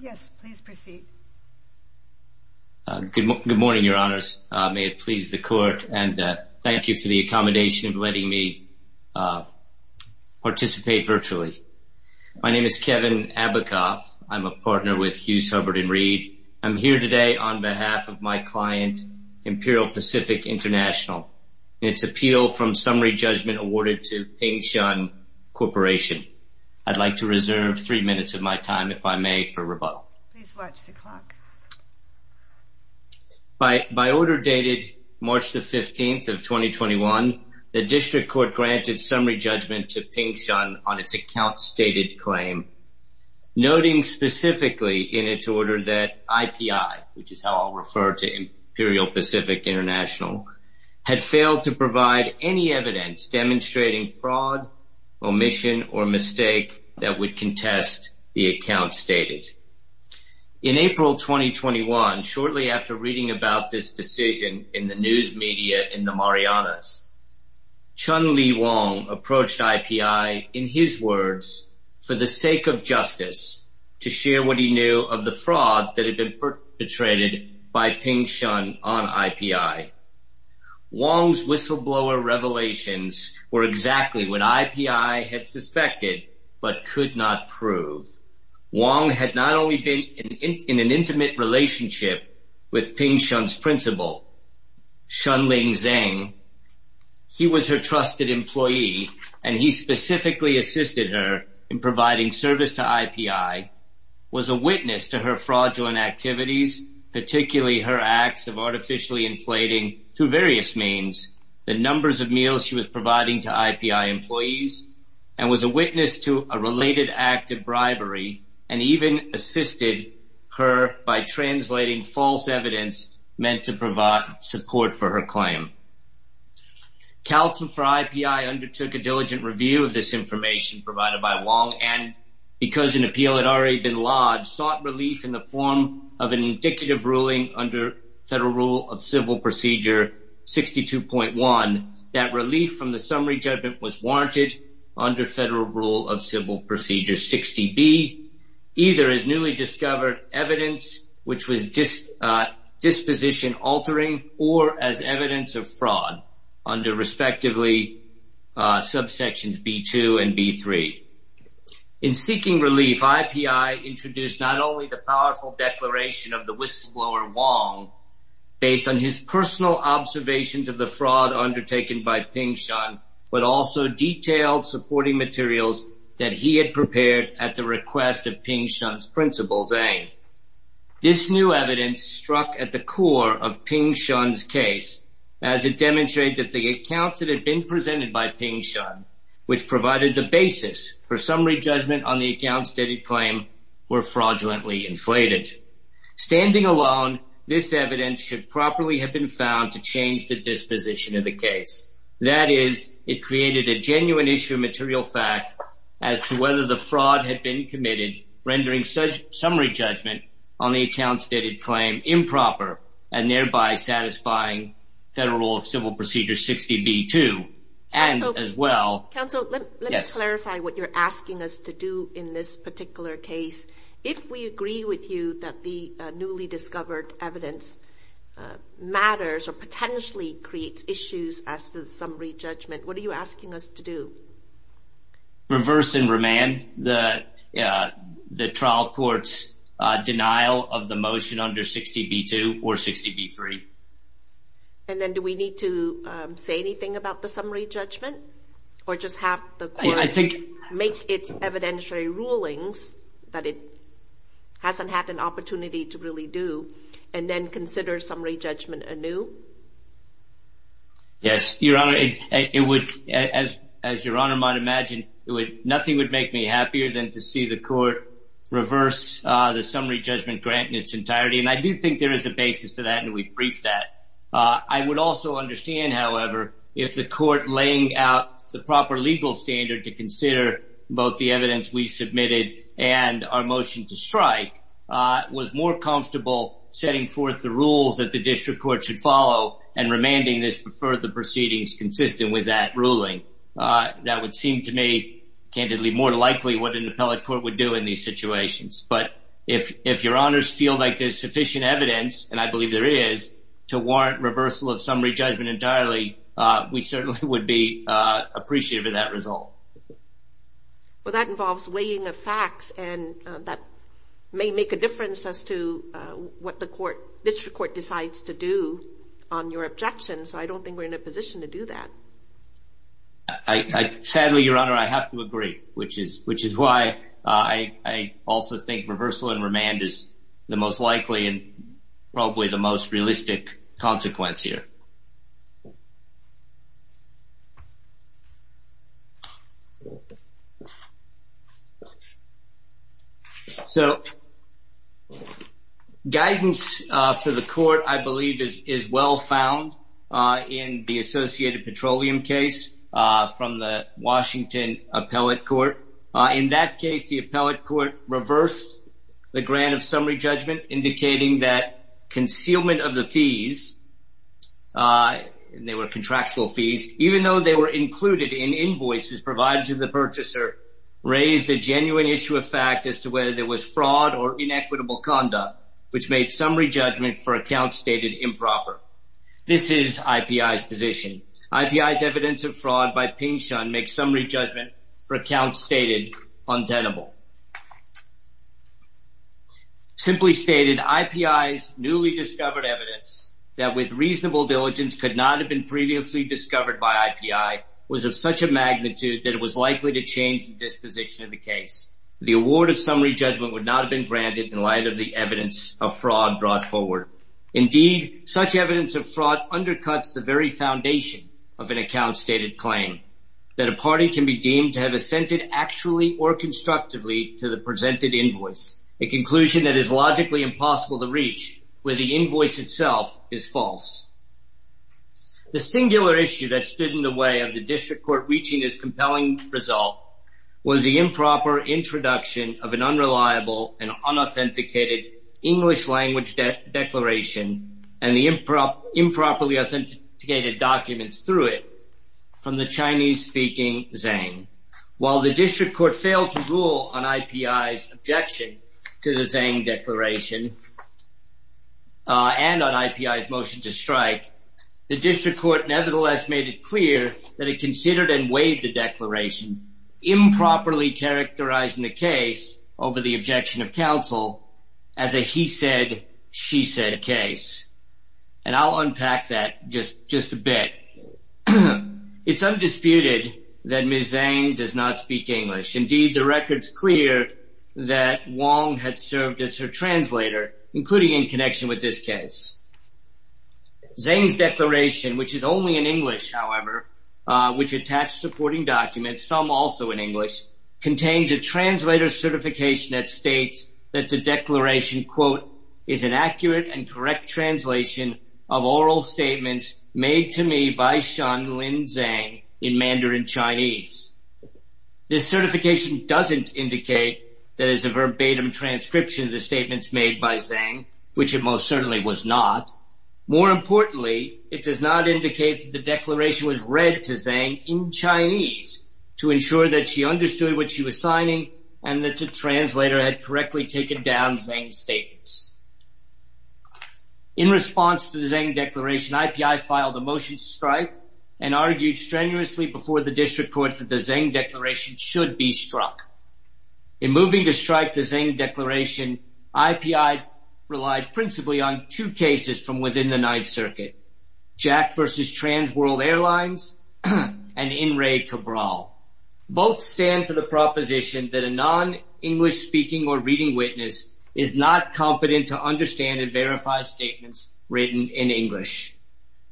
Yes, please proceed. Good morning, your honors. May it please the court and thank you for the accommodation of letting me participate virtually. My name is Kevin Abacoff. I'm a partner with Hughes, Hubbard & Reed. I'm here today on behalf of my client, Imperial Pacific International. Its appeal from summary judgment awarded to Ping Shun Corporation. I'd like to reserve three minutes of my time, if I may, for rebuttal. Please watch the clock. By order dated March the 15th of 2021, the district court granted summary judgment to Ping Shun on its account stated claim, noting specifically in its order that IPI, which is how I'll refer to Imperial Pacific International, had failed to provide any evidence demonstrating fraud, omission, or mistake that would contest the account stated. In April 2021, shortly after reading about this decision in the news media in the Marianas, Chun Lee Wong approached IPI, in his words, for the sake of justice, to share what he knew of the fraud that had been perpetrated by Ping Shun on IPI. Wong's whistleblower revelations were exactly what IPI had suspected but could not prove. Wong had not only been in an intimate relationship with Ping Shun's principal, Chun Ling Zeng, he was her trusted employee, and he specifically assisted her in providing service to IPI, was a witness to her fraudulent activities, particularly her acts of artificially inflating, through various means, the numbers of meals she was providing to IPI employees, and was a witness to a related act of bribery, and even assisted her by translating false evidence meant to provide support for her claim. Counsel for IPI undertook a diligent review of this because an appeal had already been lodged, sought relief in the form of an indicative ruling under Federal Rule of Civil Procedure 62.1, that relief from the summary judgment was warranted under Federal Rule of Civil Procedure 60B, either as newly discovered evidence which was disposition-altering or as evidence of fraud under, respectively, subsections B2 and B3. In seeking relief, IPI introduced not only the powerful declaration of the whistleblower, Wong, based on his personal observations of the fraud undertaken by Ping Shun, but also detailed supporting materials that he had prepared at the request of Ping Shun's principal, Zeng. This new evidence struck at the core of Ping Shun's case, as it demonstrated that the for summary judgment on the account-stated claim were fraudulently inflated. Standing alone, this evidence should properly have been found to change the disposition of the case. That is, it created a genuine issue of material fact as to whether the fraud had been committed, rendering summary judgment on the account-stated claim improper, and thereby satisfying Federal Rule of Civil Procedure 60B2, and as well... Counsel, let me clarify what you're asking us to do in this particular case. If we agree with you that the newly discovered evidence matters or potentially creates issues as to the summary judgment, what are you asking us to do? Reverse and remand the trial court's denial of the motion under 60B2 or 60B3. And then do we need to say anything about the summary judgment, or just have the court make its evidentiary rulings that it hasn't had an opportunity to really do, and then consider summary judgment anew? Yes, Your Honor. As Your Honor might imagine, nothing would make me happier than to see the court reverse the summary judgment grant in its entirety, and I do think there is a possibility of that. I would also understand, however, if the court laying out the proper legal standard to consider both the evidence we submitted and our motion to strike was more comfortable setting forth the rules that the district court should follow and remanding this before the proceedings consistent with that ruling. That would seem to me, candidly, more likely what an appellate court would do in these situations. But if Your Honors feel like there's sufficient evidence, and I believe there is, to warrant reversal of summary judgment entirely, we certainly would be appreciative of that result. Well, that involves weighing of facts, and that may make a difference as to what the district court decides to do on your objection, so I don't think we're in a position to do that. Sadly, Your Honor, I have to agree, which is why I also think reversal and remand is the most likely and probably the most realistic consequence here. So, guidance for the court, I believe, is well found in the associated petroleum case from the Washington appellate court. In that case, the appellate court reversed the grant of summary judgment, indicating that concealment of the fees, they were contractual fees, even though they were included in invoices provided to the purchaser, raised a genuine issue of fact as to whether there was fraud or inequitable conduct, which made summary judgment for accounts stated improper. This is IPI's position. IPI's evidence of fraud by Ping Shun makes summary judgment for accounts stated untenable. Simply stated, IPI's newly discovered evidence that with reasonable diligence could not have been previously discovered by IPI was of such a magnitude that it was likely to change the disposition of the case. The award of summary judgment would not have been granted in light of the evidence of fraud brought forward. Indeed, such evidence of fraud undercuts the very foundation of an account stated claim, that a party can be deemed to have assented actually or constructively to the presented invoice, a conclusion that is logically impossible to reach, where the invoice itself is false. The singular issue that stood in the way of the district court reaching this compelling result was the improper introduction of an unreliable and unauthenticated English language declaration and the improperly authenticated documents through it from the Chinese-speaking Zhang. While the district court failed to rule on IPI's objection to the Zhang declaration and on IPI's motion to strike, the district court nevertheless made it clear that it considered and weighed the declaration improperly characterizing the case over the objection of counsel as a he said, she said case. And I'll unpack that just a bit. It's undisputed that Ms. Zhang does not speak English. Indeed, the record's clear that Wong had served as her translator, including in connection with this case. Zhang's declaration, which is only in English, however, which attached supporting documents, some also in English, contains a translator certification that states that the declaration, quote, is an accurate and correct translation of oral statements made to me by Shanlin Zhang in Mandarin Chinese. This certification doesn't indicate that it's a verbatim transcription of the statements made by Zhang, which it most certainly was not. More importantly, it does not indicate that the declaration was read to Zhang in Chinese to ensure that she understood what she was signing and that the translator had correctly taken down Zhang's statements. In response to the Zhang declaration, IPI filed a motion to strike and argued strenuously before the district court that the Zhang declaration should be struck. In moving to strike the Zhang versus Trans World Airlines and In re Cabral. Both stand for the proposition that a non-English speaking or reading witness is not competent to understand and verify statements written in English.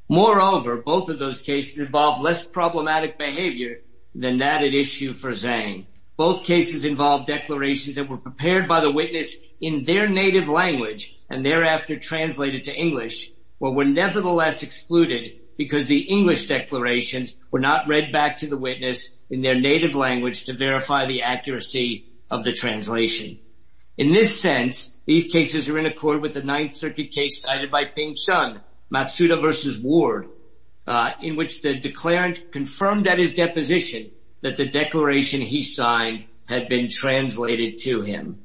Moreover, both of those cases involve less problematic behavior than that at issue for Zhang. Both cases involve declarations that were prepared by the witness in their native language and thereafter translated to English, but were nevertheless excluded because the English declarations were not read back to the witness in their native language to verify the accuracy of the translation. In this sense, these cases are in accord with the Ninth Circuit case cited by Ping Chung, Matsuda versus Ward, in which the declarant confirmed that his deposition that the declaration he signed had been translated to him.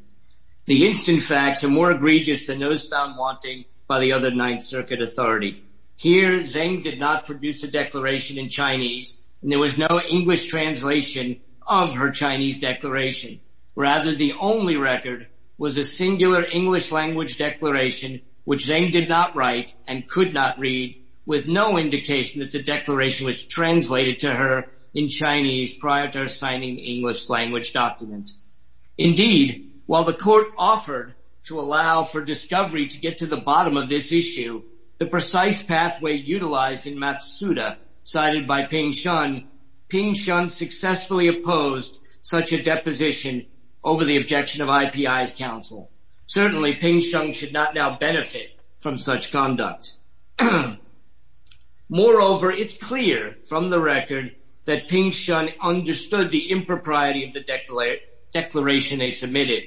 The instant facts are more egregious than those found wanting by the other Ninth Circuit authority. Here, Zhang did not produce a declaration in Chinese and there was no English translation of her Chinese declaration. Rather, the only record was a singular English language declaration, which Zhang did not write and could not read with no indication that the declaration was translated to her in Chinese prior to her signing English language documents. Indeed, while the court offered to allow for discovery to get to the bottom of this issue, the precise pathway utilized in Matsuda cited by Ping Chung, Ping Chung successfully opposed such a deposition over the objection of IPI's counsel. Certainly, Ping Chung should not now benefit from such conduct. Moreover, it's clear from the record that Ping Chung understood the impropriety of the declaration they submitted.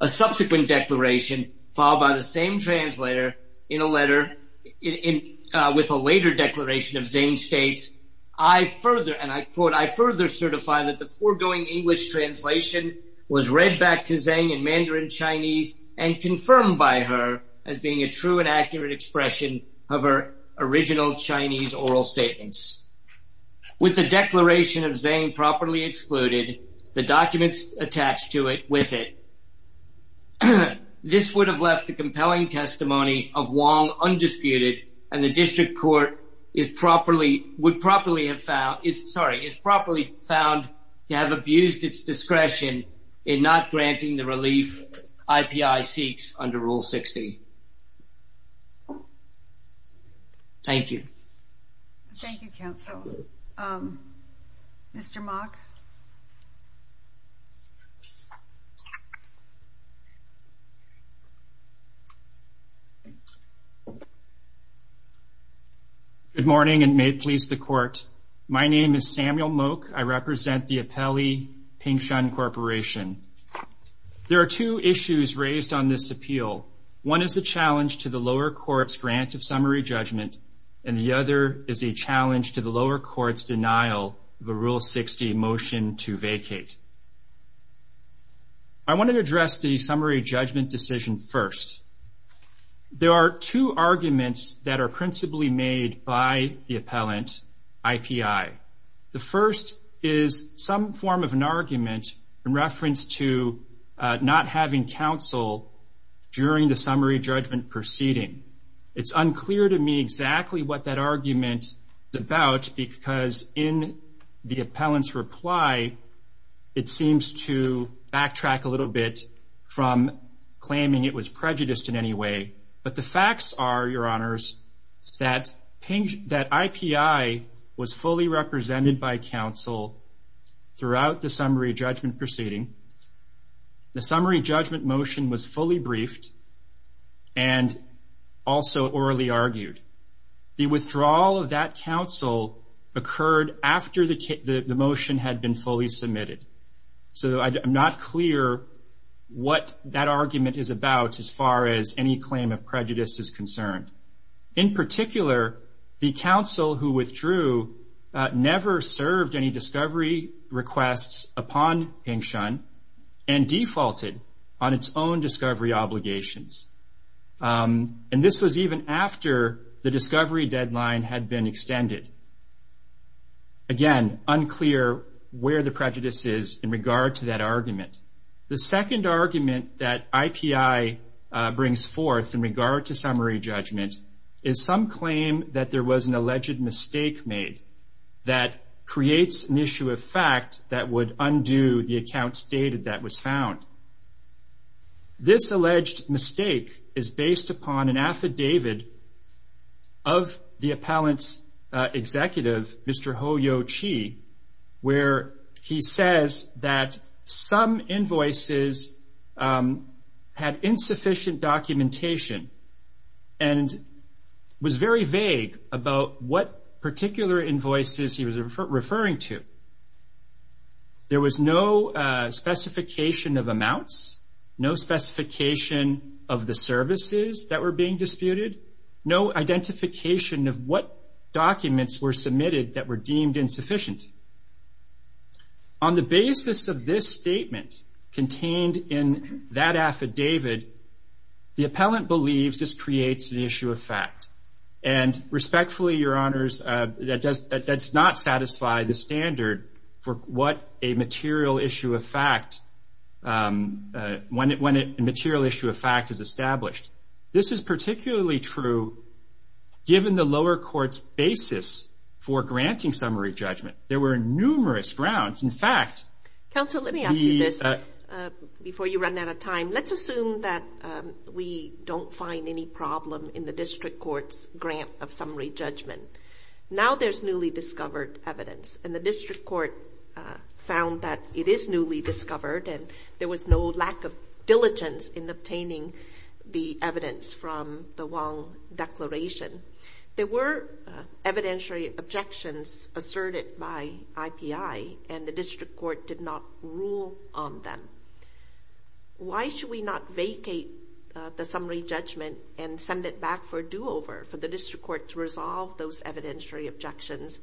A subsequent declaration followed by the same translator in a letter with a later declaration of Zhang states, I further, and I quote, I further certify that the foregoing English translation was read back to Zhang in as being a true and accurate expression of her original Chinese oral statements. With the declaration of Zhang properly excluded, the documents attached to it with it, this would have left the compelling testimony of Wong undisputed and the district court would properly have found, sorry, is properly found to have abused its discretion in not approving it. Thank you. Thank you, counsel. Mr. Mok. Good morning and may it please the court. My name is Samuel Mok. I represent the Apelli Ping Chun Corporation. There are two issues raised on this appeal. One is the challenge to the lower court's grant of summary judgment and the other is a challenge to the lower court's denial of a Rule 60 motion to vacate. I wanted to address the summary judgment decision first. There are two arguments that are principally made by the appellant, IPI. The first is some form of argument in reference to not having counsel during the summary judgment proceeding. It's unclear to me exactly what that argument is about because in the appellant's reply, it seems to backtrack a little bit from claiming it was prejudiced in any way. But the facts are, your honors, that IPI was fully represented by counsel throughout the summary judgment proceeding. The summary judgment motion was fully briefed and also orally argued. The withdrawal of that counsel occurred after the motion had been fully submitted. So I'm not clear what that argument is about as far as any claim of prejudice is concerned. In particular, the counsel who withdrew never served any discovery requests upon Ping Chun and defaulted on its own discovery obligations. This was even after the discovery deadline had been extended. Again, unclear where the prejudice is in regard to that argument. The second argument that IPI brings forth in regard to summary judgment is some claim that there was an alleged mistake made that creates an issue of fact that would undo the account stated that was found. This alleged mistake is based upon an affidavit of the appellant's executive, Mr. Ho Yo Chi, where he says that some invoices had insufficient documentation and was very vague about what particular invoices he was referring to. There was no specification of amounts, no specification of the services that were being used, no identification of what documents were submitted that were deemed insufficient. On the basis of this statement contained in that affidavit, the appellant believes this creates an issue of fact. And respectfully, Your Honors, that does not satisfy the standard for what a given the lower court's basis for granting summary judgment. There were numerous grounds. In fact... Counsel, let me ask you this before you run out of time. Let's assume that we don't find any problem in the district court's grant of summary judgment. Now there's newly discovered evidence and the district court found that it is newly discovered and there was no lack of diligence in obtaining the evidence from the Wong Declaration. There were evidentiary objections asserted by IPI and the district court did not rule on them. Why should we not vacate the summary judgment and send it back for a do-over for the district court to resolve those evidentiary objections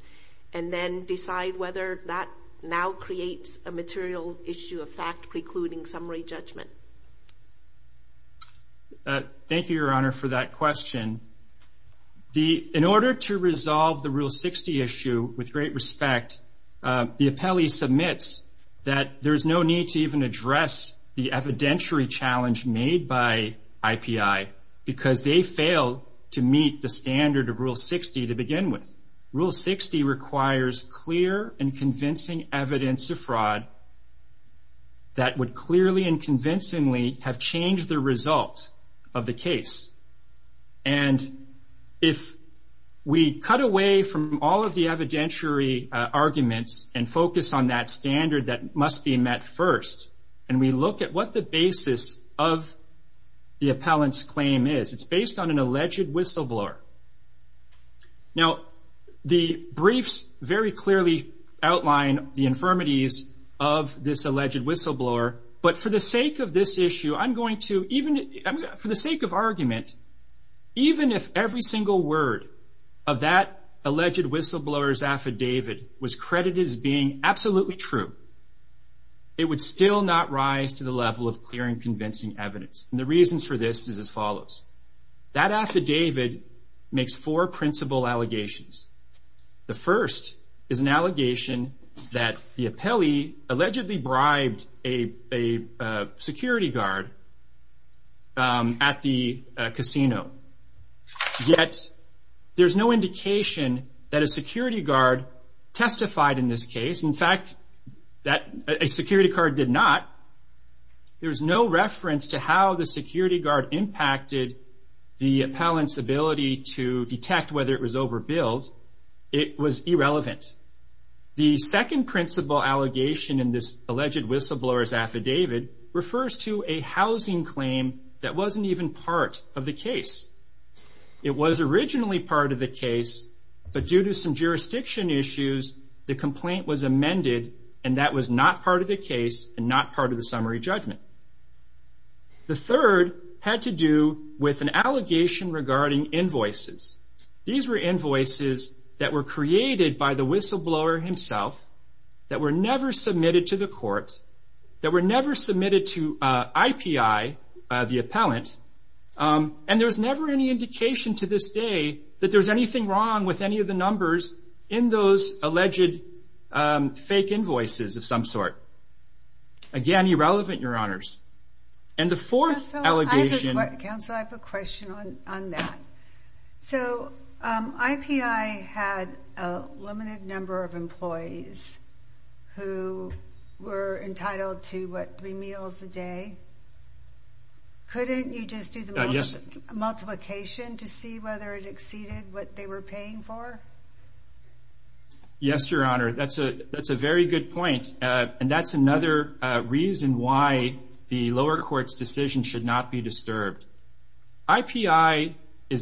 and then decide whether that now creates a material issue of fact precluding summary judgment? Thank you, Your Honor, for that question. In order to resolve the Rule 60 issue with great respect, the appellee submits that there's no need to even address the evidentiary challenge made by IPI because they failed to meet the standard of Rule 60 to begin with. Rule 60 requires clear and convincing evidence of fraud that would clearly and convincingly have changed the result of the case. And if we cut away from all of the evidentiary arguments and focus on that standard that must be met first and we look at what the basis of the appellant's claim is, it's based on an alleged whistleblower. Now, the briefs very clearly outline the infirmities of this alleged whistleblower, but for the sake of this issue, I'm going to even for the sake of argument, even if every single word of that alleged whistleblower's affidavit was credited as being true, it would still not rise to the level of clear and convincing evidence. And the reasons for this is as follows. That affidavit makes four principal allegations. The first is an allegation that the appellee allegedly bribed a security guard at the casino. Yet there's no reference to how the security guard testified in this case. In fact, a security guard did not. There's no reference to how the security guard impacted the appellant's ability to detect whether it was overbilled. It was irrelevant. The second principal allegation in this alleged whistleblower's affidavit refers to a housing claim that wasn't even part of the case and not part of the summary judgment. The third had to do with an allegation regarding invoices. These were invoices that were created by the whistleblower himself, that were never submitted to the court, that were never submitted to IPI, the appellant, and there's never any numbers in those alleged fake invoices of some sort. Again, irrelevant, your honors. And the fourth allegation... Counselor, I have a question on that. So IPI had a limited number of employees who were entitled to, what, three meals a day. Couldn't you just do the multiplication to see whether it exceeded what they were paying for? Yes, your honor. That's a very good point, and that's another reason why the lower court's decision should not be disturbed. IPI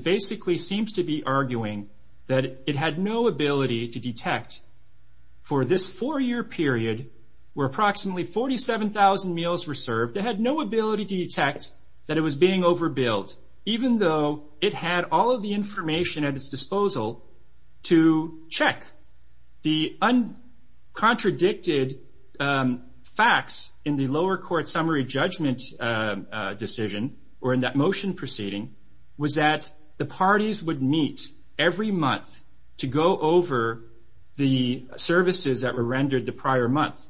basically seems to be arguing that it had no ability to detect for this four-year period where approximately 47,000 meals were served, it had no ability to detect that it was being overbilled, even though it had all of the information at its disposal to check. The uncontradicted facts in the lower court summary judgment decision, or in that motion proceeding, was that the parties would meet every month to go over the services that were rendered the prior month.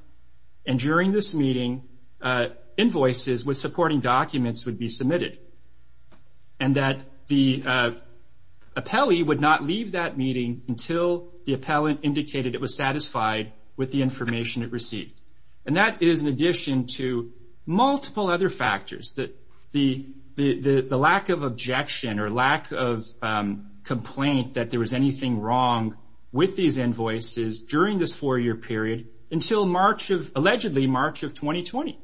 And during this meeting, invoices with supporting documents would be submitted, and that the appellee would not leave that meeting until the appellant indicated it was satisfied with the information it received. And that is in addition to multiple other factors, the lack of objection or lack of complaint that there was anything wrong with these invoices during this four-year period until allegedly March of 2020.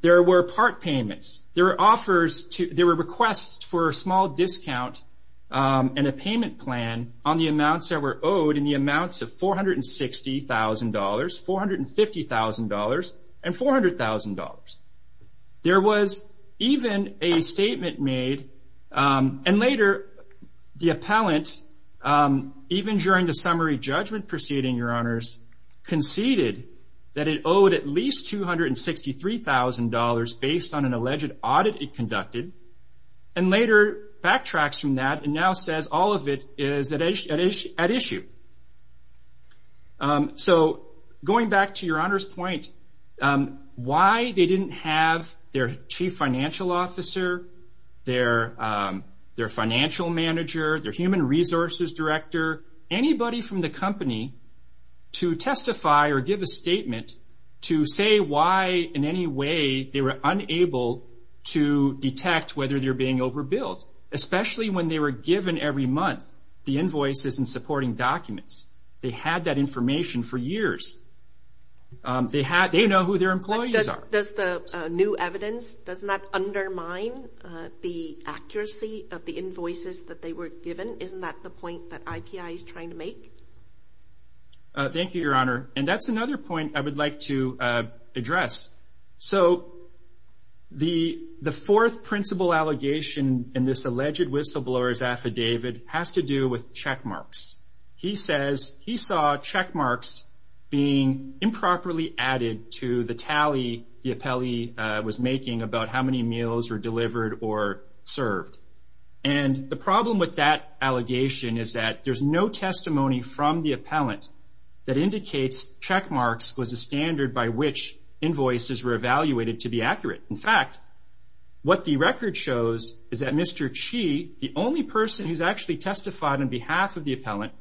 There were part payments, there were offers, there were requests for a small discount and a payment plan on the amounts that were owed, and the amounts of $460,000, $450,000, and $400,000. There was even a statement made, and later the appellant, even during the summary judgment proceeding, your honors, conceded that it owed at least $263,000 based on an alleged audit it conducted, and later backtracks from that and now says all of it is at issue. So going back to your honor's point, why they didn't have their chief financial officer, their financial manager, their human resources director, anybody from the company to testify or give a statement to say why in any way they were unable to detect whether they were being overbilled, especially when they were given every month the invoices and supporting documents. They had that information for years. They know who their employees are. Does the new evidence, doesn't that undermine the accuracy of the invoices that they were given? Isn't that the point that IPI is trying to make? Thank you, your honor, and that's another point I would like to address. So the fourth principal allegation in this alleged whistleblower's affidavit has to do with check marks. He says he saw check marks being improperly added to the appellee was making about how many meals were delivered or served. And the problem with that allegation is that there's no testimony from the appellant that indicates check marks was a standard by which invoices were evaluated to be accurate. In fact, what the record shows is that Mr. Chi, the only person who's actually testified on behalf of the appellant,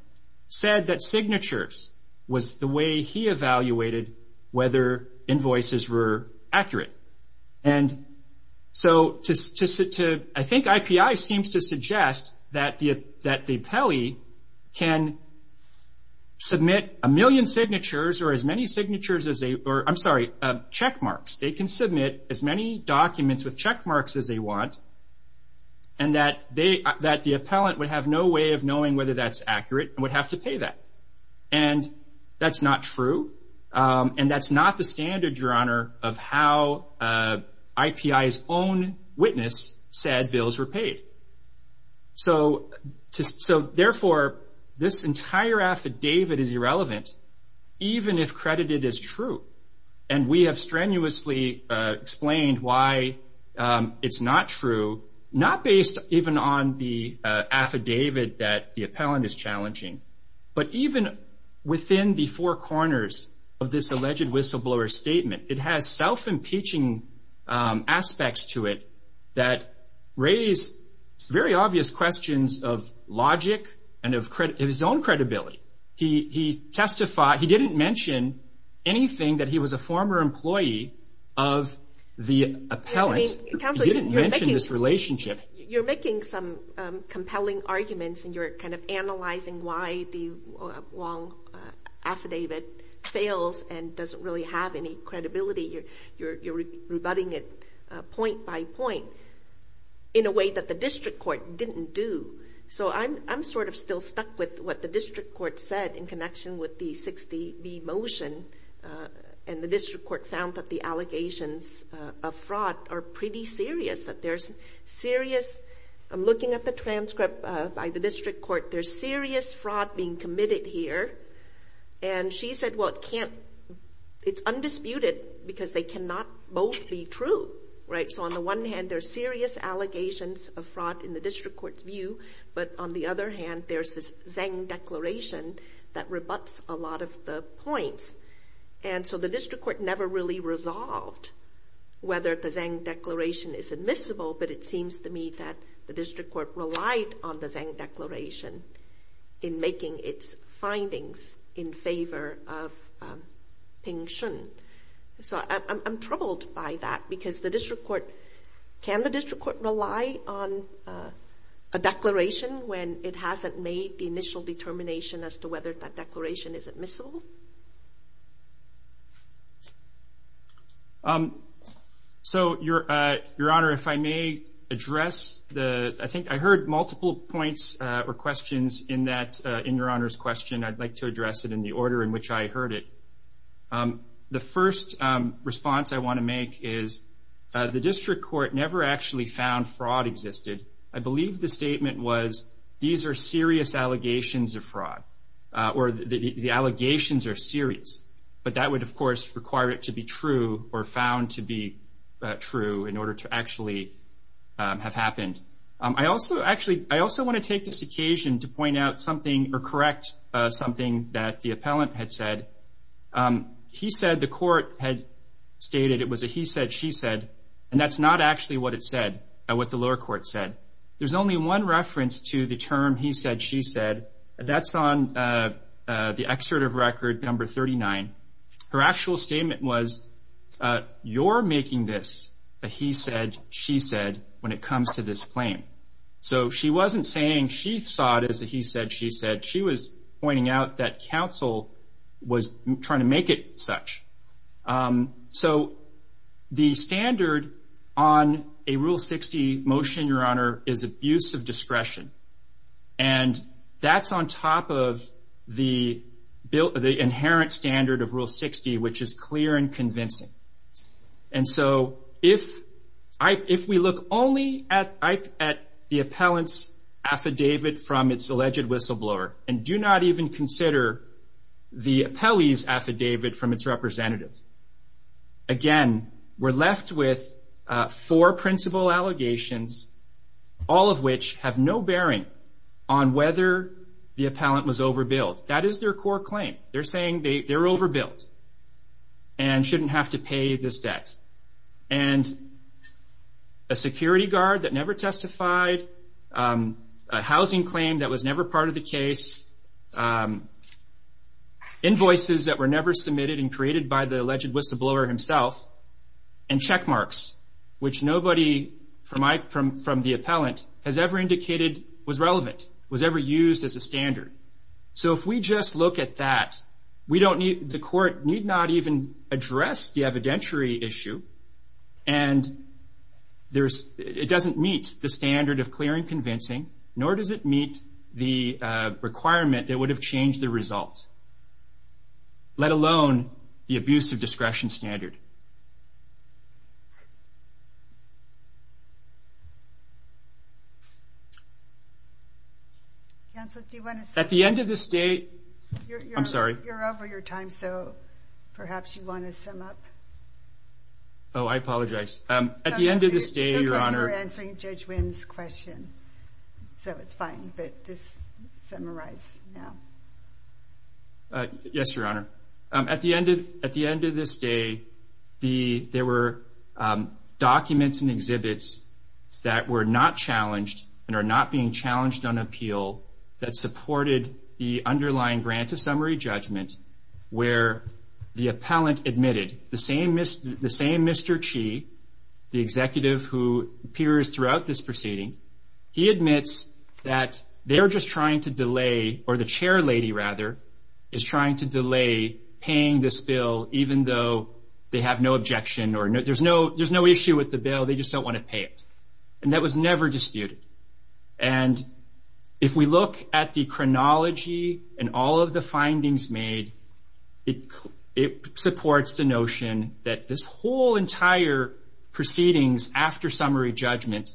said that signatures was the way he evaluated whether invoices were accurate. And so I think IPI seems to suggest that the appellee can submit a million signatures or as many signatures as they, or I'm sorry, check marks. They can submit as many documents with check marks as they want, and that the appellant would have no way of knowing whether that's accurate and would have to pay that. And that's not true. And that's not the standard, Your Honor, of how IPI's own witness said bills were paid. So therefore, this entire affidavit is irrelevant, even if credited as true. And we have strenuously explained why it's not true, not based even on the affidavit that the appellant is challenging, but even within the four corners of this alleged whistleblower statement. It has self-impeaching aspects to it that raise very obvious questions of logic and of his own credibility. He testified, he didn't mention anything that he was a former employee of the appellant. He didn't mention this relationship. You're making some compelling arguments and you're kind of analyzing why the Wong affidavit fails and doesn't really have any credibility. You're rebutting it point by point in a way that the district court didn't do. So I'm sort of still stuck with what the district court said in connection with the 60B motion. And the district court found that the allegations of fraud are pretty serious, that there's serious, I'm looking at the transcript by the district court, there's serious fraud being committed here. And she said, well, it can't, it's undisputed because they cannot both be true, right? So on the one hand, there are serious allegations of that rebutts a lot of the points. And so the district court never really resolved whether the Zhang declaration is admissible, but it seems to me that the district court relied on the Zhang declaration in making its findings in favor of Ping Shun. So I'm troubled by that because the district court, can the district court rely on a declaration when it hasn't made the initial determination as to whether that declaration is admissible? So Your Honor, if I may address the, I think I heard multiple points or questions in that, in Your Honor's question, I'd like to address it in the order in which I heard it. The first response I want to make is the district court never actually found fraud existed. I believe the statement was, these are serious allegations of fraud or the allegations are serious, but that would of course require it to be true or found to be true in order to actually have happened. I also, actually, I also want to take this occasion to point out something or correct something that the appellant had said. He said the court had stated it was a he said, she said, and that's not actually what it said, what the lower court said. There's only one reference to the term he said, she said. That's on the excerpt of record number 39. Her actual statement was, you're making this a he said, she said when it comes to this claim. So she wasn't saying she saw it as a he said, she said. She was pointing out that counsel was trying to make it so the standard on a rule 60 motion, your honor, is abuse of discretion. And that's on top of the built, the inherent standard of rule 60, which is clear and convincing. And so if I, if we look only at the appellant's affidavit from its alleged whistleblower and do not even consider the appellee's affidavit from its representative, again, we're left with four principal allegations, all of which have no bearing on whether the appellant was overbilled. That is their core claim. They're saying they're overbilled and shouldn't have to pay this debt. And a security guard that never testified, a housing claim that was never part of the case, invoices that were never submitted and created by the alleged whistleblower himself, and check marks, which nobody from the appellant has ever indicated was relevant, was ever used as a standard. So if we just look at that, we don't need, the court need not even address the evidentiary issue. And there's, it doesn't meet the standard of clear and convincing, nor does it meet the requirement that would have changed the results, let alone the abuse of discretion standard. Counsel, do you want to... At the end of this day... I'm sorry. You're over your time, so perhaps you want to sum up. Oh, I apologize. At the end of this day, Your Honor... I thought you were answering Judge Wynn's question, so it's fine, but just summarize now. Yes, Your Honor. At the end of this day, there were documents and exhibits that were not challenged and are not being challenged on appeal that supported the underlying grant of summary judgment, where the appellant admitted, the same Mr. Chi, the executive who appears throughout this proceeding, he admits that they're just trying to delay, or the chairlady, rather, is trying to delay paying this bill, even though they have no objection, or there's no issue with the bill, they just don't want to pay it. And that was never disputed. And if we look at the findings made, it supports the notion that this whole entire proceedings after summary judgment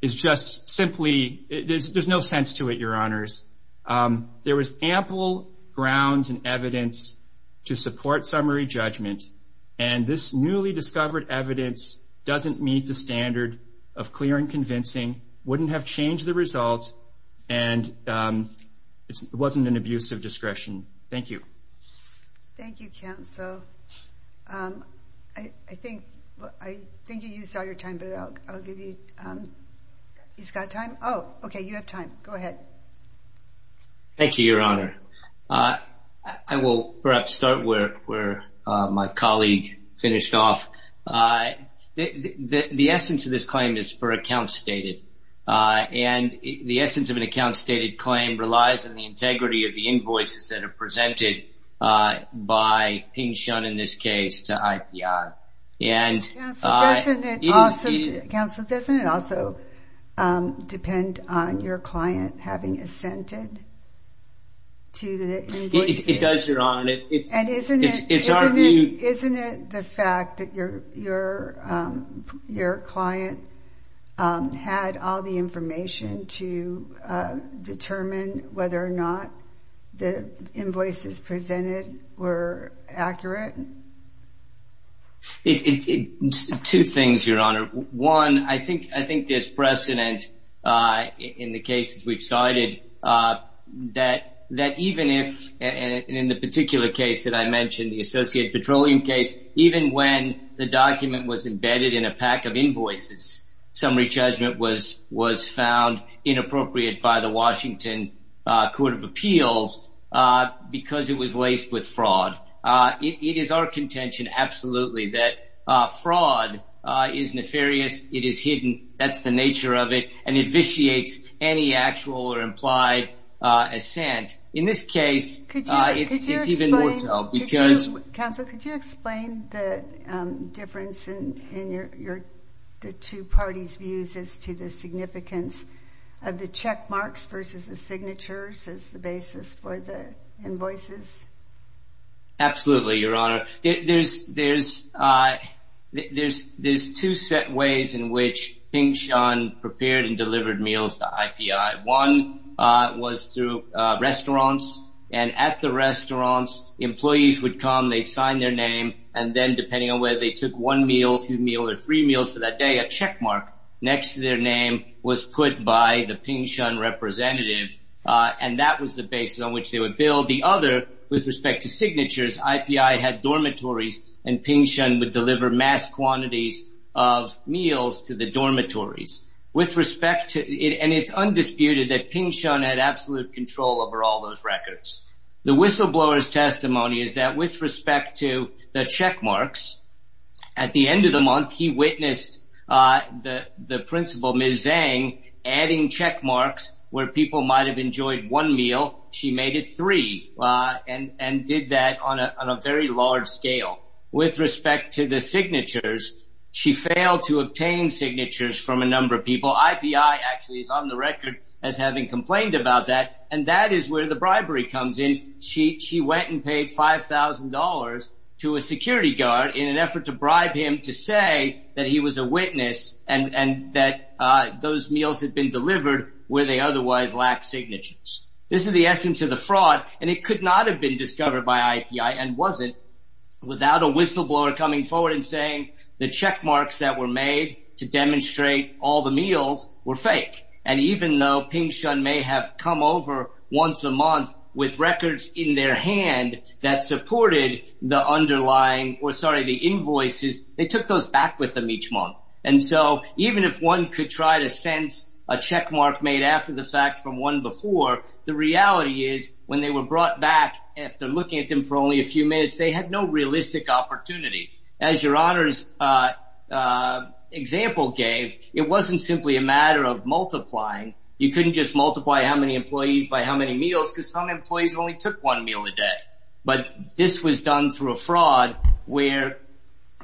is just simply... There's no sense to it, Your Honors. There was ample grounds and evidence to support summary judgment, and this newly discovered evidence doesn't meet the standard of clear and convincing, wouldn't have changed the results, and it wasn't an abuse of discretion. Thank you. Thank you, counsel. I think you used all your time, but I'll give you... He's got time? Oh, okay, you have time. Go ahead. Thank you, Your Honor. I will perhaps start where my colleague finished off. The essence of this claim is for account stated, and the essence of an account stated claim relies on the integrity of the invoices that are presented by being shown, in this case, to IPI. And... Counsel, doesn't it also depend on your client having assented to the invoices? It does, Your Honor. And isn't it the fact that your client had all the information to determine whether or not the invoices presented were accurate? Two things, Your Honor. One, I think there's precedent in the cases we've cited that even if, and in the particular case that I mentioned, the associated petroleum case, even when the document was embedded in a pack of invoices, summary judgment was found inappropriate by the Washington Court of Appeals because it was hidden. That's the nature of it, and it vitiates any actual or implied assent. In this case, it's even more so because... Counsel, could you explain the difference in the two parties' views as to the significance of the check marks versus the signatures as the basis for the invoices? Absolutely, Your Honor. There's two set ways in which Ping Shun prepared and delivered meals to IPI. One was through restaurants, and at the restaurants, employees would come, they'd sign their name, and then depending on whether they took one meal, two meals, or three meals for that day, a check mark next to their name was put by the Ping Shun representative, and that was the other. With respect to signatures, IPI had dormitories, and Ping Shun would deliver mass quantities of meals to the dormitories. It's undisputed that Ping Shun had absolute control over all those records. The whistleblower's testimony is that with respect to the check marks, at the end of the month, he witnessed the principal, Ms. Zhang, adding check marks where people might have enjoyed one meal. She made it three and did that on a very large scale. With respect to the signatures, she failed to obtain signatures from a number of people. IPI actually is on the record as having complained about that, and that is where the bribery comes in. She went and paid $5,000 to a security guard in an effort to bribe him to say that he was a lack of signatures. This is the essence of the fraud. It could not have been discovered by IPI and wasn't without a whistleblower coming forward and saying the check marks that were made to demonstrate all the meals were fake. Even though Ping Shun may have come over once a month with records in their hand that supported the underlying, or sorry, the invoices, they took those back with them each month. Even if one could try to sense a check mark made after the fact from one before, the reality is when they were brought back after looking at them for only a few minutes, they had no realistic opportunity. As your honor's example gave, it wasn't simply a matter of multiplying. You couldn't just multiply how many employees by how many meals because some employees only took one meal a day, but this was done through a fraud where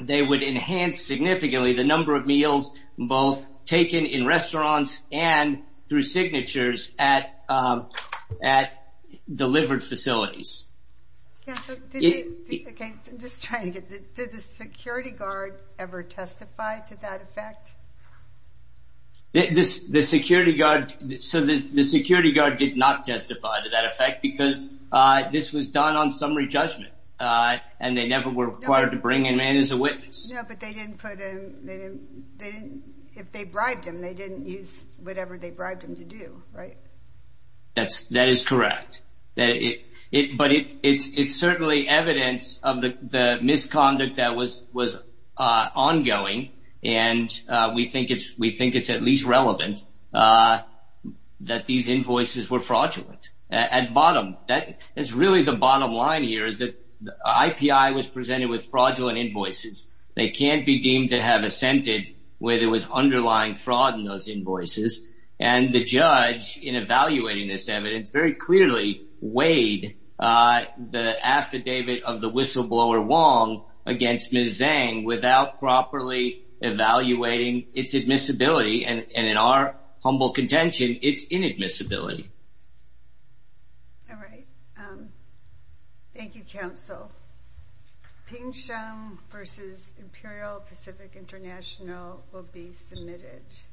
they would enhance significantly the number of meals both taken in restaurants and through signatures at delivered facilities. Did the security guard ever testify to that effect? The security guard did not testify to that effect because this was done on summary judgment and they never were required to bring a man as a witness. No, but if they bribed him, they didn't use whatever they bribed him to do, right? That is correct, but it's certainly evidence of the misconduct that was ongoing and we think it's at least relevant that these invoices were fraudulent. At bottom, that is really the bottom line here is that the IPI was presented with fraudulent invoices. They can't be deemed to have assented where there was underlying fraud in those invoices and the judge in evaluating this evidence very clearly weighed the affidavit of the whistleblower Wong against Ms. Zhang without properly evaluating its admissibility and in our humble contention, its inadmissibility. All right, thank you, counsel. Ping Shum versus Imperial Pacific International will be submitted.